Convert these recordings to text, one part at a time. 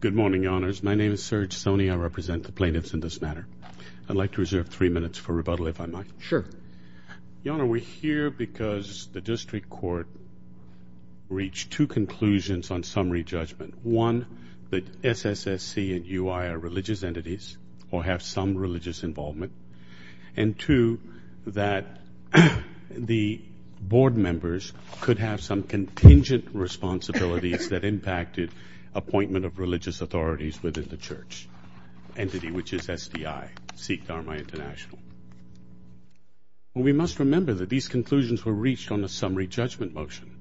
Good morning, Your Honors. My name is Serge Soni. I represent the plaintiffs in this matter. I'd like to reserve three minutes for rebuttal, if I might. Sure. Your Honor, we're here because the district court reached two conclusions on summary judgment. One, that SSSC and UI are religious entities or have some religious involvement. And two, that the board members could have some contingent responsibilities that impacted appointment of religious authorities within the church, entity which is SDI, Sikh Dharma International. We must remember that these conclusions were reached on a summary judgment motion.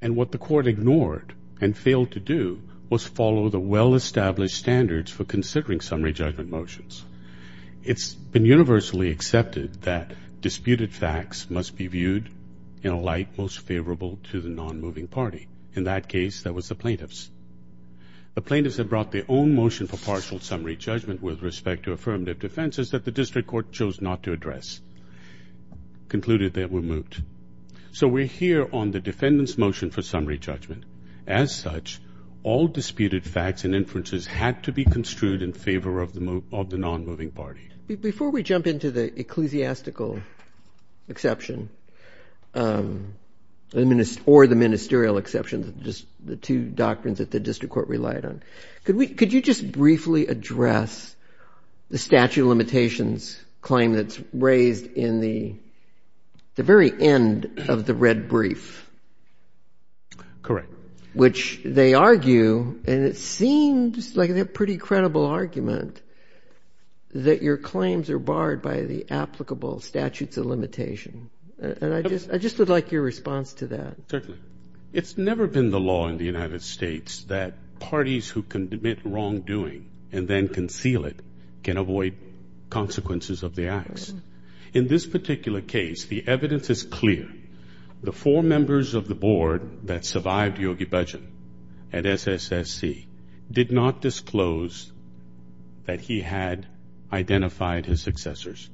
And what the court ignored and failed to do was follow the well-established standards for considering summary judgment motions. It's been universally accepted that disputed facts must be viewed in a light most favorable to the non-moving party. In that case, that was the plaintiffs. The plaintiffs have brought their own motion for partial summary judgment with respect to affirmative defenses that the district court chose not to address, concluded they were moved. So we're here on the defendant's motion for summary judgment. As such, all disputed facts and inferences had to be construed in favor of the non-moving party. Before we jump into the ecclesiastical exception or the ministerial exception, just the two doctrines that the district court relied on, could you just briefly address the statute of limitations claim that's raised in the very end of the red brief? Correct. Which they argue, and it seems like a pretty credible argument, that your claims are barred by the applicable statutes of limitation. And I just would like your response to that. Certainly. It's never been the law in the United States that parties who commit wrongdoing and then conceal it can avoid consequences of the acts. In this particular case, the evidence is clear. The four members of the board that survived Yogi Bhajan at SSSC did not disclose that he had identified his successors.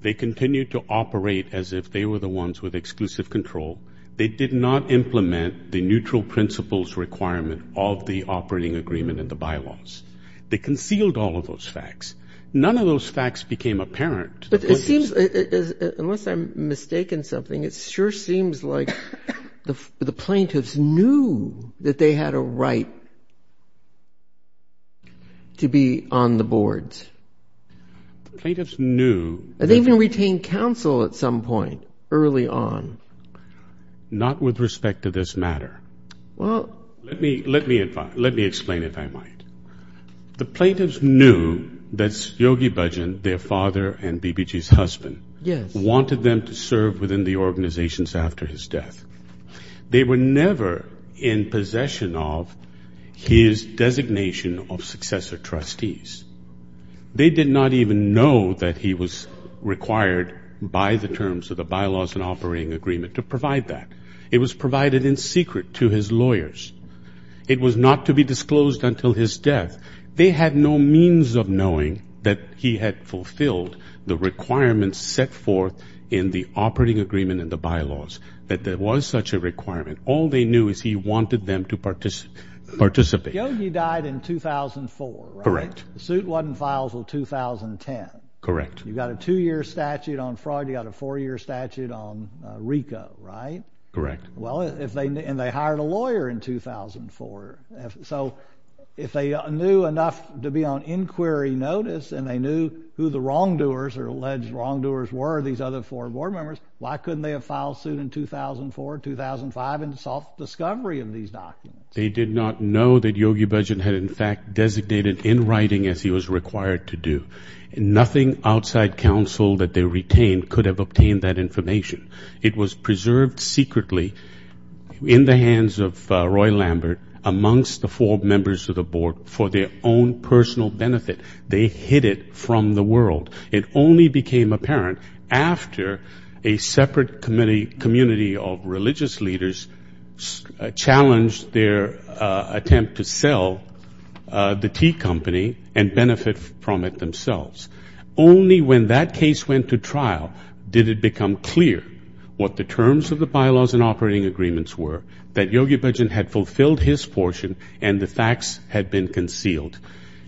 They continued to operate as if they were the ones with exclusive control. They did not implement the neutral principles requirement of the operating agreement in the bylaws. They concealed all of those facts. None of those facts became apparent. But it seems, unless I'm mistaken something, it sure seems like the plaintiffs knew that they had a right to be on the boards. The plaintiffs knew. And they even retained counsel at some point early on. Not with respect to this matter. Well. Let me explain, if I might. The plaintiffs knew that Yogi Bhajan, their father and BBG's husband, wanted them to serve within the organizations after his death. They were never in possession of his designation of successor trustees. They did not even know that he was required by the terms of the bylaws and operating agreement to provide that. It was provided in secret to his lawyers. It was not to be disclosed until his death. They had no means of knowing that he had fulfilled the requirements set forth in the operating agreement and the bylaws. That there was such a requirement. All they knew is he wanted them to participate. Yogi died in 2004, right? Correct. The suit wasn't filed until 2010. Correct. You've got a two-year statute on fraud. You've got a four-year statute on RICO, right? Correct. And they hired a lawyer in 2004. So if they knew enough to be on inquiry notice and they knew who the wrongdoers or alleged wrongdoers were, these other four board members, why couldn't they have filed suit in 2004, 2005 and sought discovery of these documents? They did not know that Yogi Bhajan had, in fact, designated in writing as he was required to do. Nothing outside counsel that they retained could have obtained that information. It was preserved secretly in the hands of Roy Lambert amongst the four members of the board for their own personal benefit. They hid it from the world. It only became apparent after a separate community of religious leaders challenged their attempt to sell the tea company and benefit from it themselves. Only when that case went to trial did it become clear what the terms of the bylaws and operating agreements were, that Yogi Bhajan had fulfilled his portion and the facts had been concealed.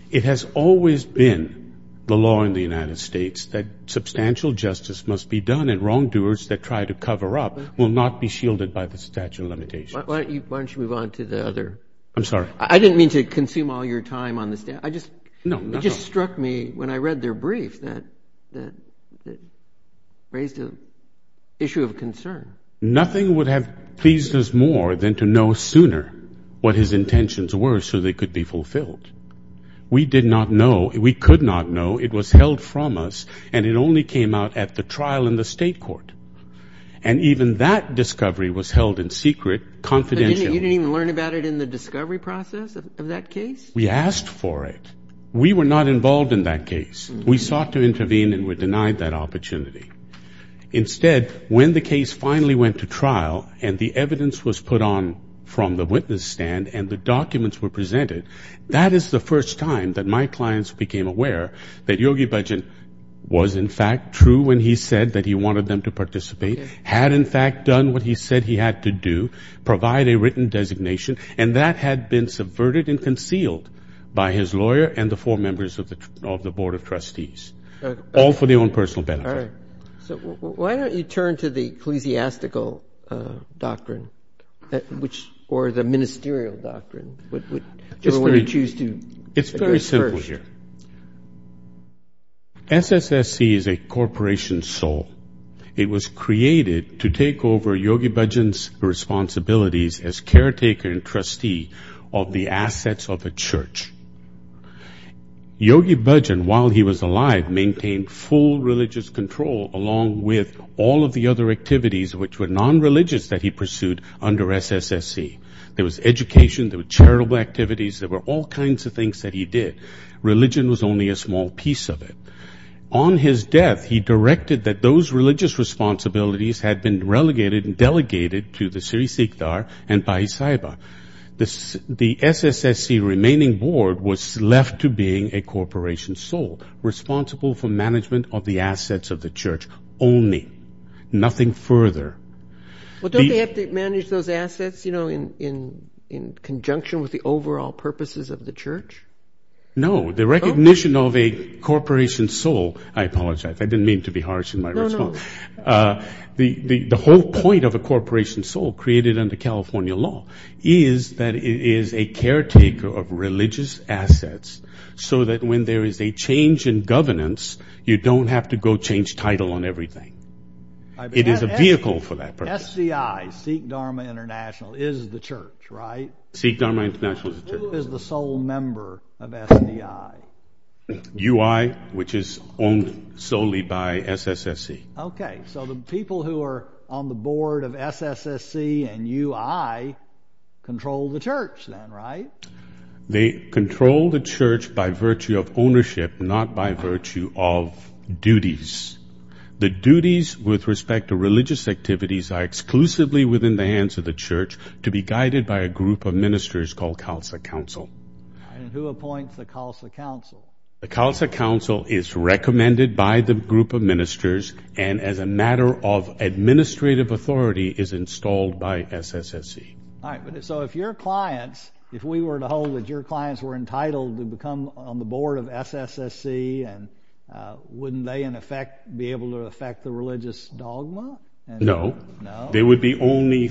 It has always been the law in the United States that substantial justice must be done and wrongdoers that try to cover up will not be shielded by the statute of limitations. Why don't you move on to the other? I'm sorry? I didn't mean to consume all your time on this. It just struck me when I read their brief that it raised an issue of concern. Nothing would have pleased us more than to know sooner what his intentions were so they could be fulfilled. We did not know. We could not know. It was held from us, and it only came out at the trial in the state court. And even that discovery was held in secret confidentially. You didn't even learn about it in the discovery process of that case? We asked for it. We were not involved in that case. We sought to intervene and were denied that opportunity. Instead, when the case finally went to trial and the evidence was put on from the witness stand and the documents were presented, that is the first time that my clients became aware that Yogi Bhajan was, in fact, true when he said that he wanted them to participate, had, in fact, done what he said he had to do, provide a written designation, and that had been subverted and concealed by his lawyer and the four members of the Board of Trustees, all for their own personal benefit. All right. So why don't you turn to the ecclesiastical doctrine or the ministerial doctrine? Which one would you choose to address first? It's very simple here. SSSC is a corporation's soul. It was created to take over Yogi Bhajan's responsibilities as caretaker and trustee of the assets of a church. Yogi Bhajan, while he was alive, maintained full religious control along with all of the other activities which were nonreligious that he pursued under SSSC. There was education. There were charitable activities. There were all kinds of things that he did. Religion was only a small piece of it. On his death, he directed that those religious responsibilities had been relegated and delegated to the Sri Siktar and Paisaiba. The SSSC remaining board was left to being a corporation's soul, responsible for management of the assets of the church only, nothing further. Well, don't they have to manage those assets, you know, in conjunction with the overall purposes of the church? No. The recognition of a corporation's soul, I apologize. I didn't mean to be harsh in my response. No, no. The whole point of a corporation's soul, created under California law, is that it is a caretaker of religious assets so that when there is a change in governance, you don't have to go change title on everything. It is a vehicle for that purpose. SDI, Sikh Dharma International, is the church, right? Sikh Dharma International is the church. Who is the sole member of SDI? UI, which is owned solely by SSSC. Okay. So the people who are on the board of SSSC and UI control the church then, right? They control the church by virtue of ownership, not by virtue of duties. The duties with respect to religious activities are exclusively within the hands of the church to be guided by a group of ministers called Khalsa Council. And who appoints the Khalsa Council? The Khalsa Council is recommended by the group of ministers and as a matter of administrative authority is installed by SSSC. All right. So if your clients, if we were to hold that your clients were entitled to become on the board of SSSC, wouldn't they in effect be able to affect the religious dogma? No. No? There would be only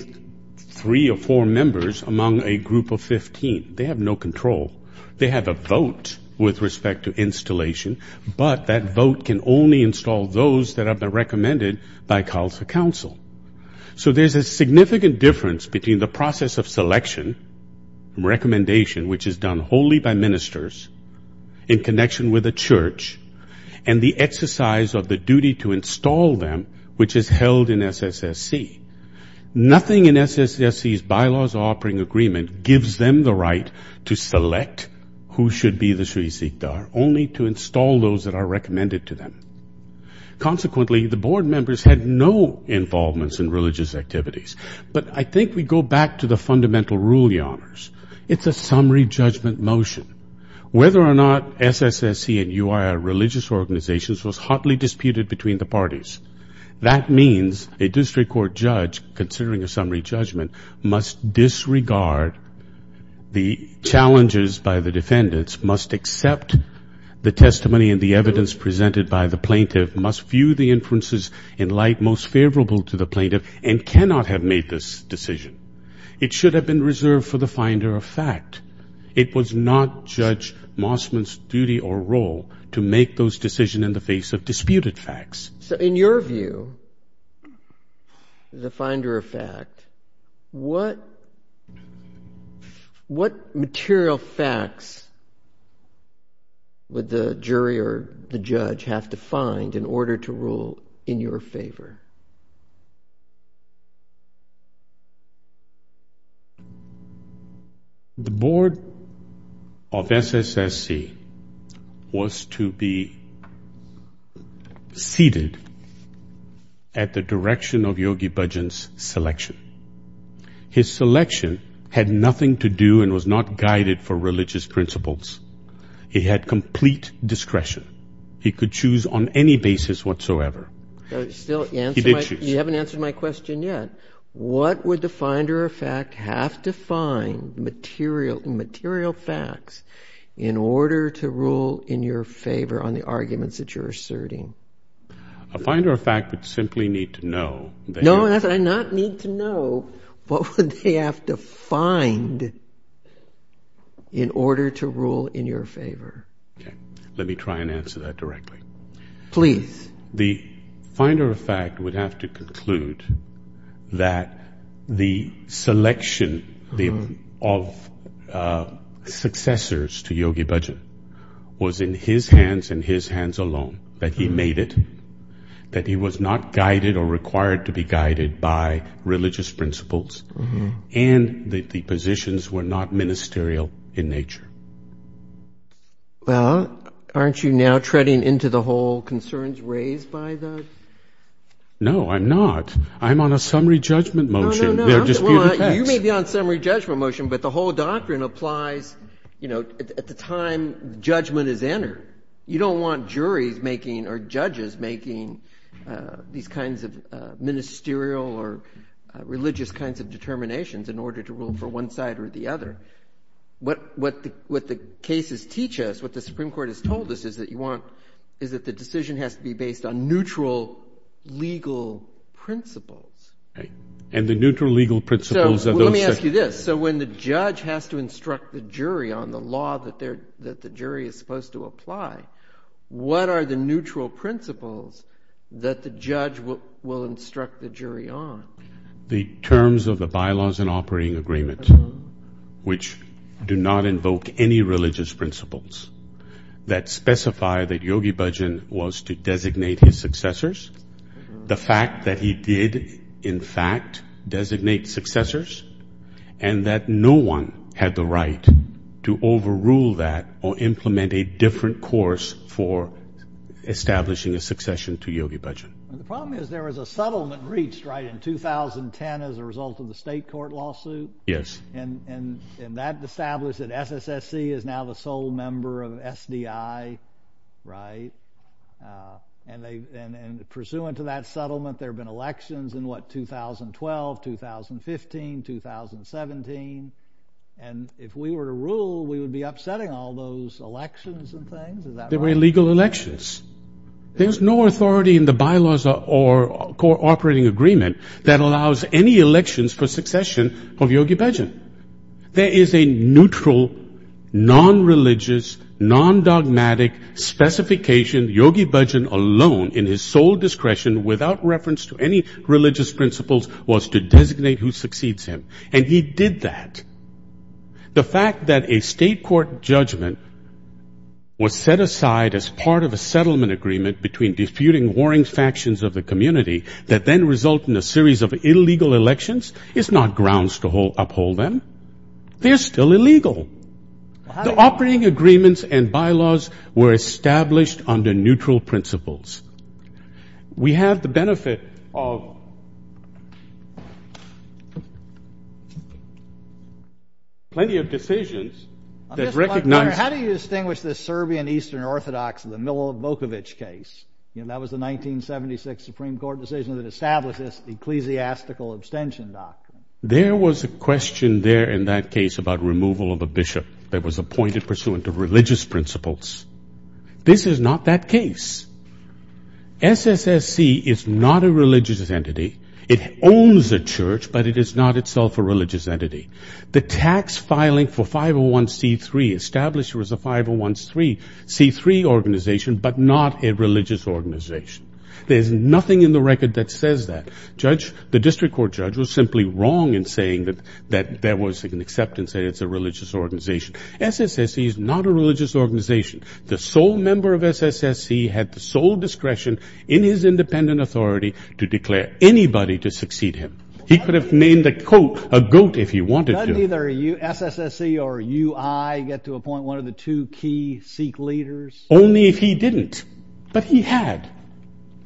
three or four members among a group of 15. They have no control. They have a vote with respect to installation, but that vote can only install those that have been recommended by Khalsa Council. So there's a significant difference between the process of selection and recommendation, and the exercise of the duty to install them, which is held in SSSC. Nothing in SSSC's bylaws offering agreement gives them the right to select who should be the Sri Sikdar, only to install those that are recommended to them. Consequently, the board members had no involvements in religious activities. But I think we go back to the fundamental rule, Your Honors. It's a summary judgment motion. Whether or not SSSC and UIR religious organizations was hotly disputed between the parties. That means a district court judge, considering a summary judgment, must disregard the challenges by the defendants, must accept the testimony and the evidence presented by the plaintiff, must view the inferences in light most favorable to the plaintiff, and cannot have made this decision. It should have been reserved for the finder of fact. It was not Judge Mossman's duty or role to make those decisions in the face of disputed facts. So in your view, the finder of fact, what material facts would the jury or the judge have to find in order to rule in your favor? The board of SSSC was to be seated at the direction of Yogi Bhajan's selection. His selection had nothing to do and was not guided for religious principles. He had complete discretion. He could choose on any basis whatsoever. He did choose. You haven't answered my question yet. What would the finder of fact have to find, material facts, in order to rule in your favor on the arguments that you're asserting? A finder of fact would simply need to know. No, not need to know. What would they have to find in order to rule in your favor? Let me try and answer that directly. Please. The finder of fact would have to conclude that the selection of successors to Yogi Bhajan was in his hands and his hands alone, that he made it, that he was not guided or required to be guided by religious principles, and that the positions were not ministerial in nature. Well, aren't you now treading into the whole concerns raised by those? No, I'm not. I'm on a summary judgment motion. No, no, no. You may be on a summary judgment motion, but the whole doctrine applies at the time judgment is entered. You don't want juries making or judges making these kinds of ministerial or religious kinds of determinations in order to rule for one side or the other. What the cases teach us, what the Supreme Court has told us is that you want, is that the decision has to be based on neutral legal principles. And the neutral legal principles of those things. So let me ask you this. So when the judge has to instruct the jury on the law that the jury is supposed to apply, what are the neutral principles that the judge will instruct the jury on? The terms of the bylaws and operating agreement, which do not invoke any religious principles, that specify that Yogi Bhajan was to designate his successors, the fact that he did, in fact, designate successors, and that no one had the right to overrule that or implement a different course for establishing a succession to Yogi Bhajan. The problem is there was a settlement reached, right, in 2010 as a result of the state court lawsuit. Yes. And that established that SSSC is now the sole member of SDI, right? And pursuant to that settlement, there have been elections in, what, 2012, 2015, 2017. And if we were to rule, we would be upsetting all those elections and things. Is that right? There were illegal elections. There's no authority in the bylaws or operating agreement that allows any elections for succession of Yogi Bhajan. There is a neutral, nonreligious, non-dogmatic specification. Yogi Bhajan alone, in his sole discretion, without reference to any religious principles, was to designate who succeeds him. And he did that. The fact that a state court judgment was set aside as part of a settlement agreement between disputing warring factions of the community that then result in a series of illegal elections is not grounds to uphold them. They're still illegal. The operating agreements and bylaws were established under neutral principles. We have the benefit of plenty of decisions that recognize... I'm just wondering, how do you distinguish the Serbian Eastern Orthodox and the Milo Vukovic case? You know, that was the 1976 Supreme Court decision that established this ecclesiastical abstention doctrine. There was a question there in that case about removal of a bishop that was appointed pursuant to religious principles. This is not that case. SSSC is not a religious entity. It owns a church, but it is not itself a religious entity. The tax filing for 501c3 established it was a 501c3 organization, but not a religious organization. There's nothing in the record that says that. The district court judge was simply wrong in saying that there was an acceptance that it's a religious organization. SSSC is not a religious organization. The sole member of SSSC had the sole discretion in his independent authority to declare anybody to succeed him. He could have named a goat if he wanted to. Did SSSC or UI get to appoint one of the two key Sikh leaders? Only if he didn't, but he had.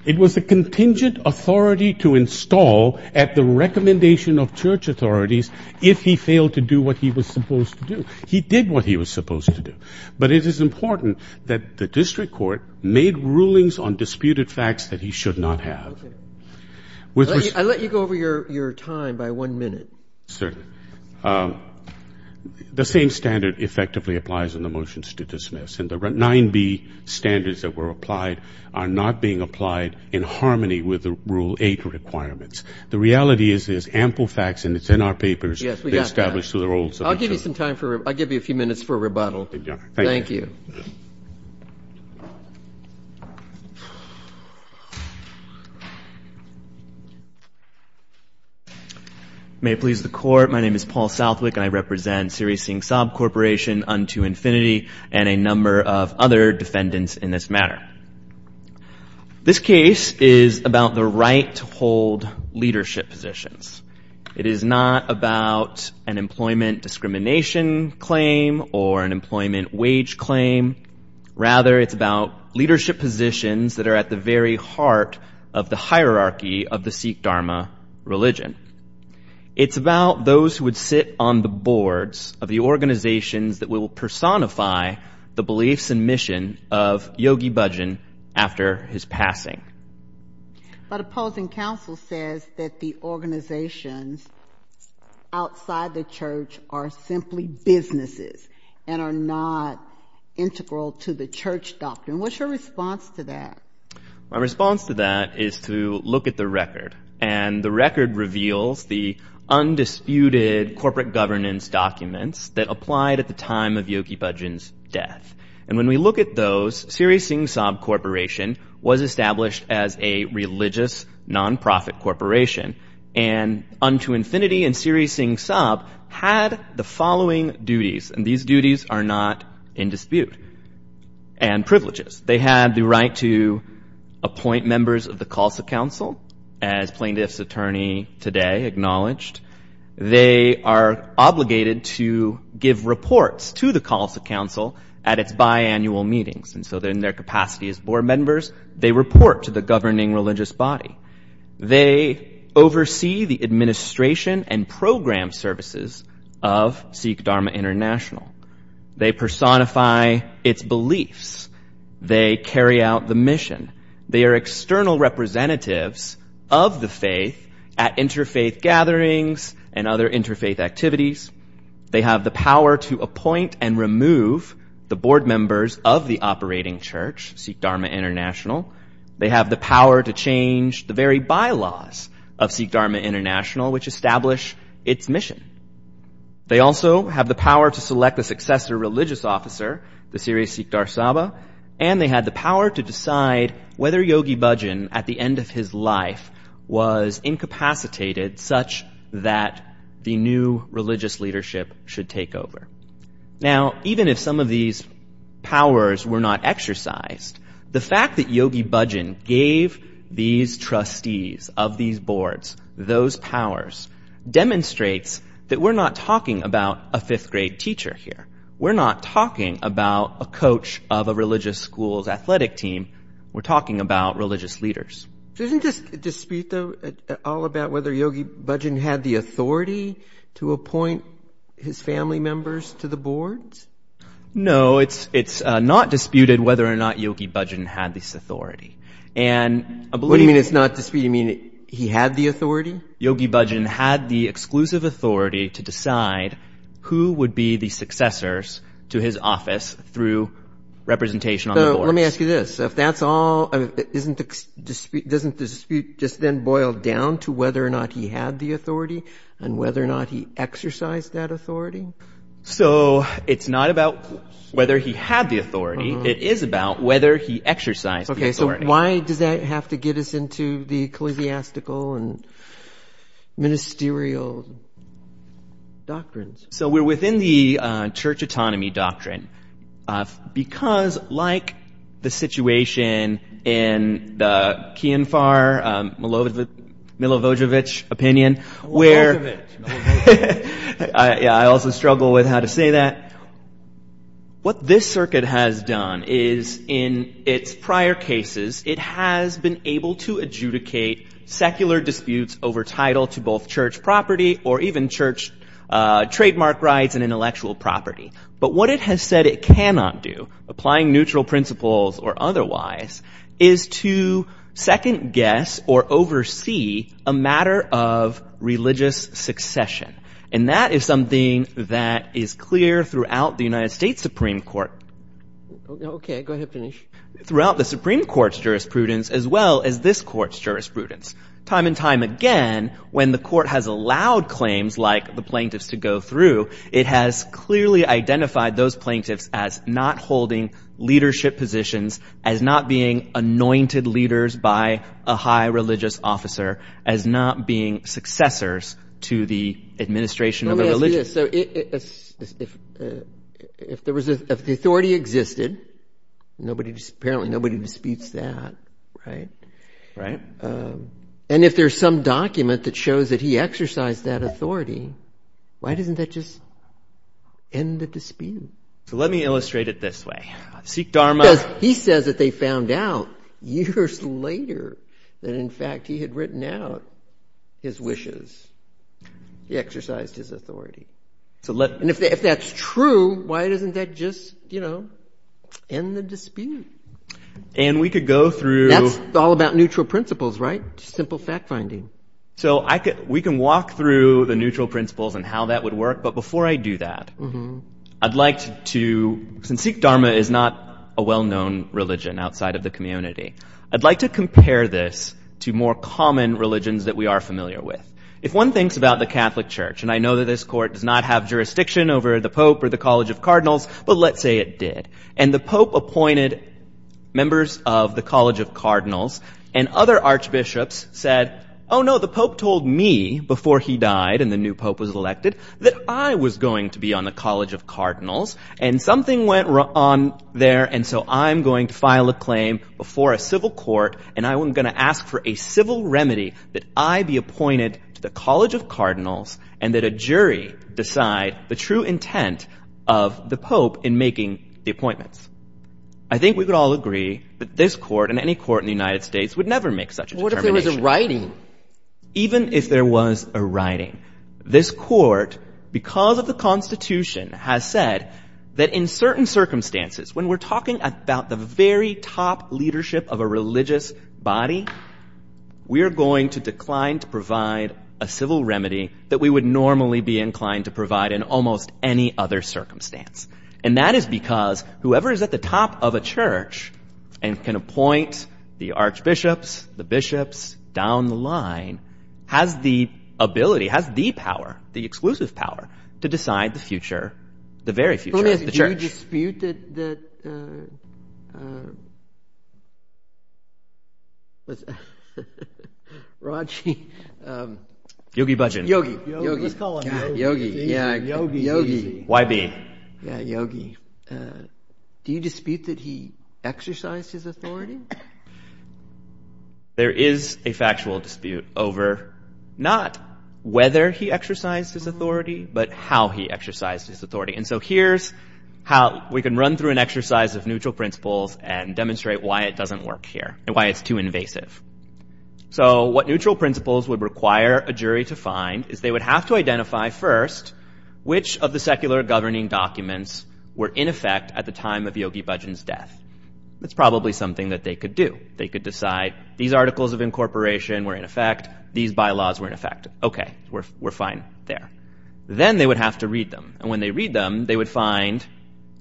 It was a contingent authority to install at the recommendation of church authorities if he failed to do what he was supposed to do. He did what he was supposed to do. But it is important that the district court made rulings on disputed facts that he should not have. Okay. I'll let you go over your time by one minute. Certainly. The same standard effectively applies in the motions to dismiss. And the 9b standards that were applied are not being applied in harmony with the Rule 8 requirements. The reality is there's ample facts, and it's in our papers. Yes, we got that. I'll give you some time for rebuttal. I'll give you a few minutes for rebuttal. Thank you. Thank you. May it please the Court, my name is Paul Southwick, and I represent Siri Singh Saab Corporation, Unto Infinity, and a number of other defendants in this matter. This case is about the right to hold leadership positions. It is not about an employment discrimination claim or an employment wage claim. Rather, it's about leadership positions that are at the very heart of the hierarchy of the Sikh Dharma religion. It's about those who would sit on the boards of the organizations that will personify the beliefs and mission of Yogi Bhajan after his passing. But opposing counsel says that the organizations outside the church are simply businesses and are not integral to the church doctrine. What's your response to that? My response to that is to look at the record, and the record reveals the undisputed corporate governance documents that applied at the time of Yogi Bhajan's death. And when we look at those, Siri Singh Saab Corporation was established as a religious nonprofit corporation, and Unto Infinity and Siri Singh Saab had the following duties, and these duties are not in dispute, and privileges. They had the right to appoint members of the Khalsa Council, as plaintiff's attorney today acknowledged. They are obligated to give reports to the Khalsa Council at its biannual meetings, and so in their capacity as board members, they report to the governing religious body. They oversee the administration and program services of Sikh Dharma International. They personify its beliefs. They carry out the mission. They are external representatives of the faith at interfaith gatherings and other interfaith activities. They have the power to appoint and remove the board members of the operating church, Sikh Dharma International. They have the power to change the very bylaws of Sikh Dharma International, which establish its mission. They also have the power to select a successor religious officer, the Siri Sikh Dar Saba, and they had the power to decide whether Yogi Bhajan, at the end of his life, was incapacitated such that the new religious leadership should take over. Now, even if some of these powers were not exercised, the fact that Yogi Bhajan gave these trustees of these boards those powers demonstrates that we're not talking about a fifth-grade teacher here. We're not talking about a coach of a religious school's athletic team. We're talking about religious leaders. Doesn't this dispute, though, all about whether Yogi Bhajan had the authority to appoint his family members to the boards? No, it's not disputed whether or not Yogi Bhajan had this authority. What do you mean it's not disputed? You mean he had the authority? Yogi Bhajan had the exclusive authority to decide who would be the successors to his office through representation on the boards. So let me ask you this. Doesn't the dispute just then boil down to whether or not he had the authority and whether or not he exercised that authority? So it's not about whether he had the authority. It is about whether he exercised the authority. Why does that have to get us into the ecclesiastical and ministerial doctrines? So we're within the church autonomy doctrine because, like the situation in the Kienfar Milojevic opinion where – Milojevic. Yeah, I also struggle with how to say that. What this circuit has done is, in its prior cases, it has been able to adjudicate secular disputes over title to both church property or even church trademark rights and intellectual property. But what it has said it cannot do, applying neutral principles or otherwise, is to second-guess or oversee a matter of religious succession. And that is something that is clear throughout the United States Supreme Court. Okay. Go ahead. Finish. Throughout the Supreme Court's jurisprudence as well as this Court's jurisprudence. Time and time again, when the Court has allowed claims like the plaintiffs to go through, it has clearly identified those plaintiffs as not holding leadership positions, as not being anointed leaders by a high religious officer, as not being successors to the administration of a religion. Let me ask you this. If the authority existed, apparently nobody disputes that, right? Right. And if there's some document that shows that he exercised that authority, why doesn't that just end the dispute? So let me illustrate it this way. Sikh Dharma – Because he says that they found out years later that, in fact, he had written out his wishes. He exercised his authority. And if that's true, why doesn't that just end the dispute? And we could go through – That's all about neutral principles, right? Just simple fact-finding. So we can walk through the neutral principles and how that would work, but before I do that, I'd like to – Since Sikh Dharma is not a well-known religion outside of the community, I'd like to compare this to more common religions that we are familiar with. If one thinks about the Catholic Church, and I know that this court does not have jurisdiction over the pope or the College of Cardinals, but let's say it did, and the pope appointed members of the College of Cardinals, and other archbishops said, oh, no, the pope told me before he died and the new pope was elected that I was going to be on the College of Cardinals, and something went wrong there, and so I'm going to file a claim before a civil court, and I'm going to ask for a civil remedy that I be appointed to the College of Cardinals and that a jury decide the true intent of the pope in making the appointments. I think we could all agree that this court and any court in the United States would never make such a determination. Even if there was a writing. Even if there was a writing. This court, because of the Constitution, has said that in certain circumstances, when we're talking about the very top leadership of a religious body, we are going to decline to provide a civil remedy that we would normally be inclined to provide in almost any other circumstance, and that is because whoever is at the top of a church and can appoint the archbishops, the bishops, down the line, has the ability, has the power, the exclusive power, to decide the future, the very future of the church. Do you dispute that... Raji... Yogi Bhajan. Yogi. Let's call him Yogi. Yogi. Y-B. Yogi. Do you dispute that he exercised his authority? There is a factual dispute over not whether he exercised his authority, but how he exercised his authority. And so here's how we can run through an exercise of neutral principles and demonstrate why it doesn't work here and why it's too invasive. So what neutral principles would require a jury to find is they would have to identify first which of the secular governing documents were in effect at the time of Yogi Bhajan's death. That's probably something that they could do. They could decide these articles of incorporation were in effect, these bylaws were in effect. Okay, we're fine there. Then they would have to read them. And when they read them, they would find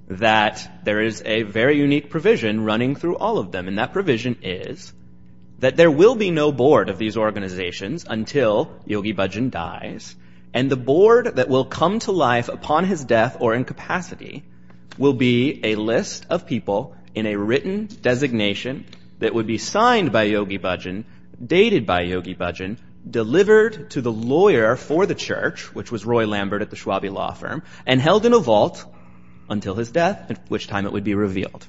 that there is a very unique provision running through all of them, and that provision is that there will be no board of these organizations until Yogi Bhajan dies, and the board that will come to life upon his death or incapacity will be a list of people in a written designation that would be signed by Yogi Bhajan, dated by Yogi Bhajan, delivered to the lawyer for the church, which was Roy Lambert at the Schwabe Law Firm, and held in a vault until his death, at which time it would be revealed.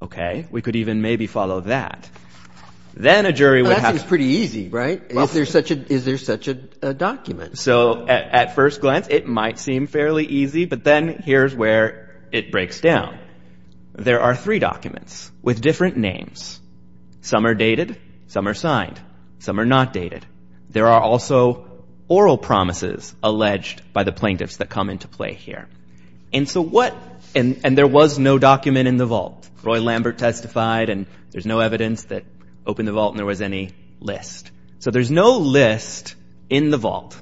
Okay, we could even maybe follow that. Then a jury would have to... That seems pretty easy, right? Is there such a document? So at first glance, it might seem fairly easy, but then here's where it breaks down. There are three documents with different names. Some are dated, some are signed, some are not dated. There are also oral promises alleged by the plaintiffs that come into play here. And so what... And there was no document in the vault. Roy Lambert testified, and there's no evidence that opened the vault and there was any list. So there's no list in the vault.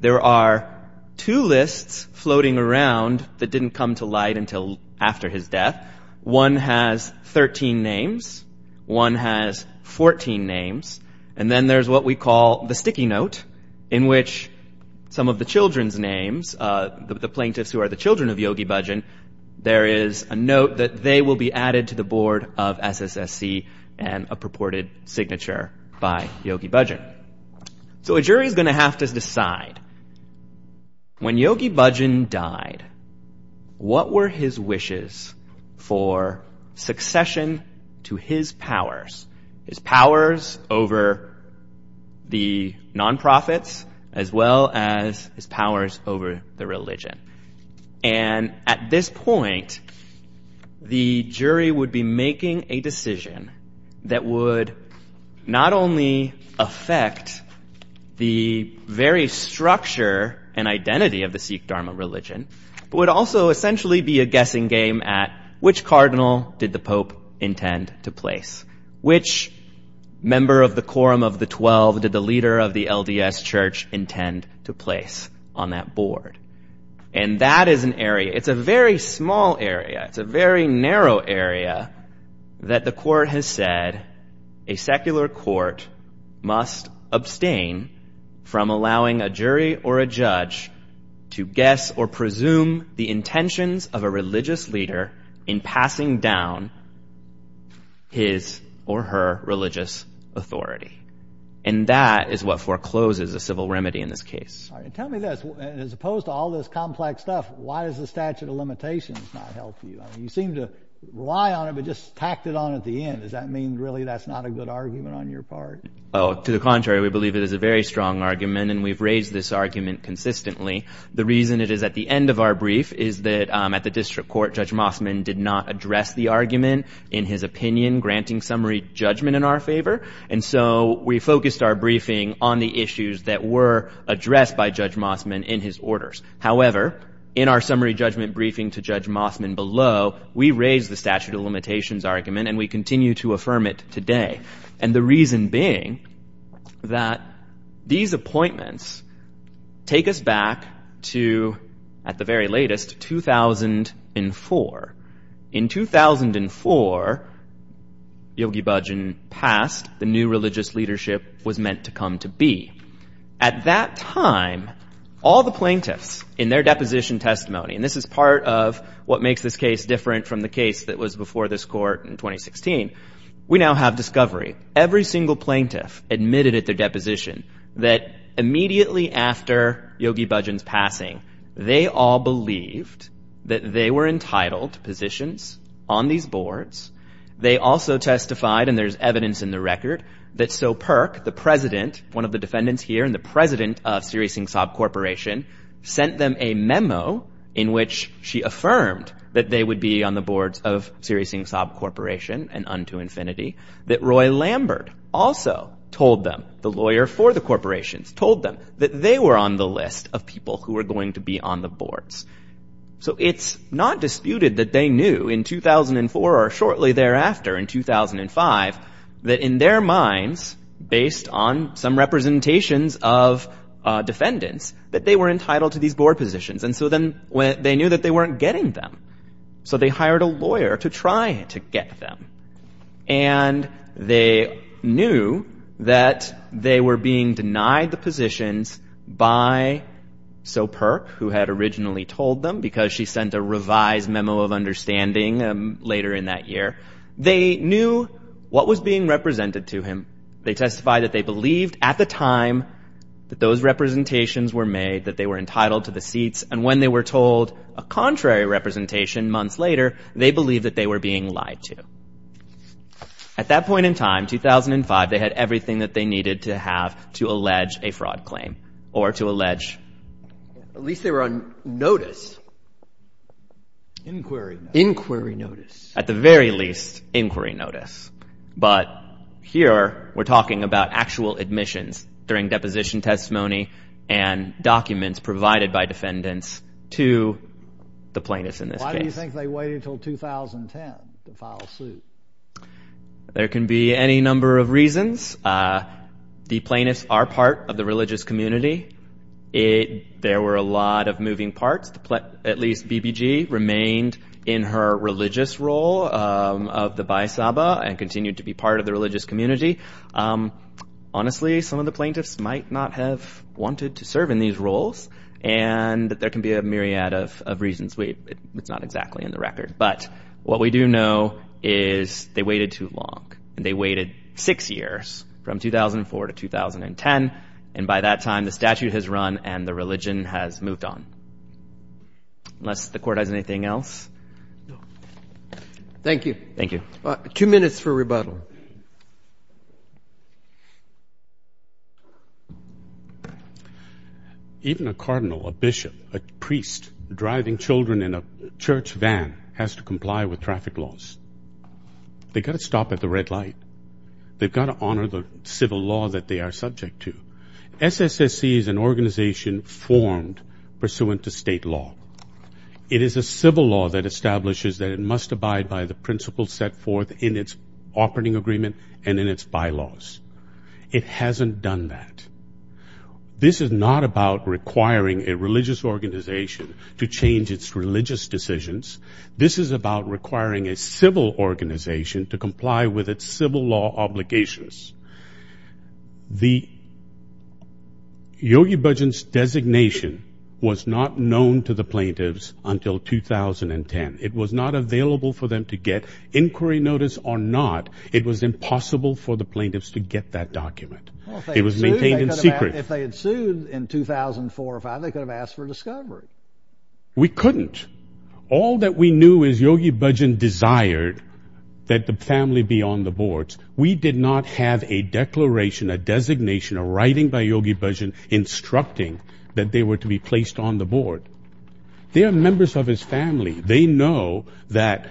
There are two lists floating around that didn't come to light until after his death. One has 13 names, one has 14 names, and then there's what we call the sticky note, in which some of the children's names, the plaintiffs who are the children of Yogi Bhajan, there is a note that they will be added to the board of SSSC and a purported signature by Yogi Bhajan. So a jury is going to have to decide, when Yogi Bhajan died, what were his wishes for succession to his powers? His powers over the nonprofits as well as his powers over the religion. And at this point, the jury would be making a decision that would not only affect the very structure and identity of the Sikh Dharma religion, but would also essentially be a guessing game at which cardinal did the Pope intend to place? Which member of the Quorum of the Twelve did the leader of the LDS Church intend to place on that board? And that is an area, it's a very small area, it's a very narrow area, that the court has said a secular court must abstain from allowing a jury or a judge to guess or presume the intentions of a religious leader in passing down his or her religious authority. And that is what forecloses a civil remedy in this case. Tell me this, as opposed to all this complex stuff, why does the statute of limitations not help you? You seem to rely on it, but just tacked it on at the end. Does that mean really that's not a good argument on your part? To the contrary, we believe it is a very strong argument, and we've raised this argument consistently. The reason it is at the end of our brief is that at the district court Judge Mossman did not address the argument in his opinion, granting summary judgment in our favor. And so we focused our briefing on the issues that were addressed by Judge Mossman in his orders. However, in our summary judgment briefing to Judge Mossman below, we raised the statute of limitations argument and we continue to affirm it today. And the reason being that these appointments take us back to, at the very latest, 2004. In 2004, Yogi Bhajan passed. The new religious leadership was meant to come to be. At that time, all the plaintiffs in their deposition testimony, and this is part of what makes this case different from the case that was before this court in 2016, we now have discovery. Every single plaintiff admitted at their deposition that immediately after Yogi Bhajan's passing, they all believed that they were entitled to positions on these boards. They also testified, and there's evidence in the record, that So Perk, the president, one of the defendants here, and the president of Sirisingsab Corporation, sent them a memo in which she affirmed that they would be on the boards of Sirisingsab Corporation and unto infinity, that Roy Lambert also told them, the lawyer for the corporations, told them that they were on the list of people who were going to be on the boards. So it's not disputed that they knew in 2004 or shortly thereafter, in 2005, that in their minds, based on some representations of defendants, that they were entitled to these board positions. And so then they knew that they weren't getting them. So they hired a lawyer to try to get them. And they knew that they were being denied the positions by So Perk, who had originally told them, because she sent a revised memo of understanding later in that year. They knew what was being represented to him. They testified that they believed at the time that those representations were made, that they were entitled to the seats, and when they were told a contrary representation months later, they believed that they were being lied to. At that point in time, 2005, they had everything that they needed to have to allege a fraud claim or to allege... At least they were on notice. Inquiry notice. Inquiry notice. At the very least, inquiry notice. But here we're talking about actual admissions during deposition testimony and documents provided by defendants to the plaintiffs in this case. Why do you think they waited until 2010 to file suit? There can be any number of reasons. The plaintiffs are part of the religious community. There were a lot of moving parts. At least B.B.G. remained in her religious role of the Bai Saba and continued to be part of the religious community. Honestly, some of the plaintiffs might not have wanted to serve in these roles, and there can be a myriad of reasons. It's not exactly in the record. But what we do know is they waited too long, and they waited six years, from 2004 to 2010, and by that time the statute has run and the religion has moved on. Unless the court has anything else? Thank you. Thank you. Even a cardinal, a bishop, a priest, a driver driving children in a church van has to comply with traffic laws. They've got to stop at the red light. They've got to honor the civil law that they are subject to. SSSC is an organization formed pursuant to state law. It is a civil law that establishes that it must abide by the principles set forth in its operating agreement and in its bylaws. It hasn't done that. This is not about requiring a religious organization to change its religious decisions. This is about requiring a civil organization to comply with its civil law obligations. The Yogi Bhajan's designation was not known to the plaintiffs until 2010. It was not available for them to get inquiry notice or not. It was impossible for the plaintiffs to get that document. It was maintained in secret. If they had sued in 2004 or 2005, they could have asked for discovery. We couldn't. All that we knew is Yogi Bhajan desired that the family be on the boards. We did not have a declaration, a designation, a writing by Yogi Bhajan instructing that they were to be placed on the board. They are members of his family. They know that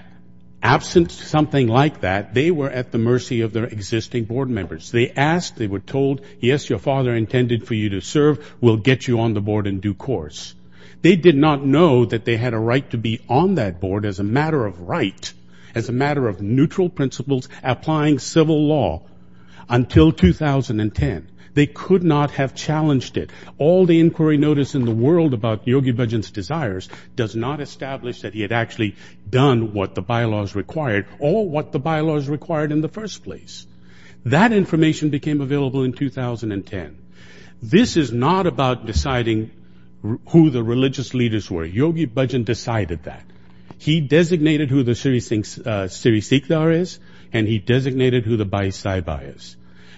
absent something like that, they were at the mercy of their existing board members. They asked. They were told, yes, your father intended for you to serve. We'll get you on the board in due course. They did not know that they had a right to be on that board as a matter of right, as a matter of neutral principles, applying civil law until 2010. They could not have challenged it. All the inquiry notice in the world about Yogi Bhajan's desires does not establish that he had actually done what the bylaws required or what the bylaws required in the first place. That information became available in 2010. This is not about deciding who the religious leaders were. Yogi Bhajan decided that. He designated who the Sri Sikdar is and he designated who the Bhai Saibhai is.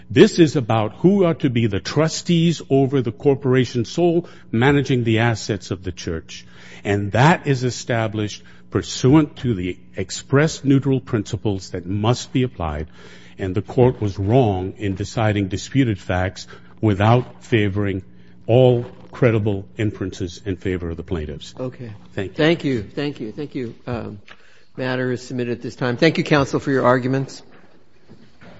This is about who are to be the trustees over the corporation soul managing the assets of the church. And that is established pursuant to the express neutral principles that must be applied, and the court was wrong in deciding disputed facts without favoring all credible inferences in favor of the plaintiffs. Thank you. Thank you. Thank you. The matter is submitted at this time. Thank you, counsel, for your arguments.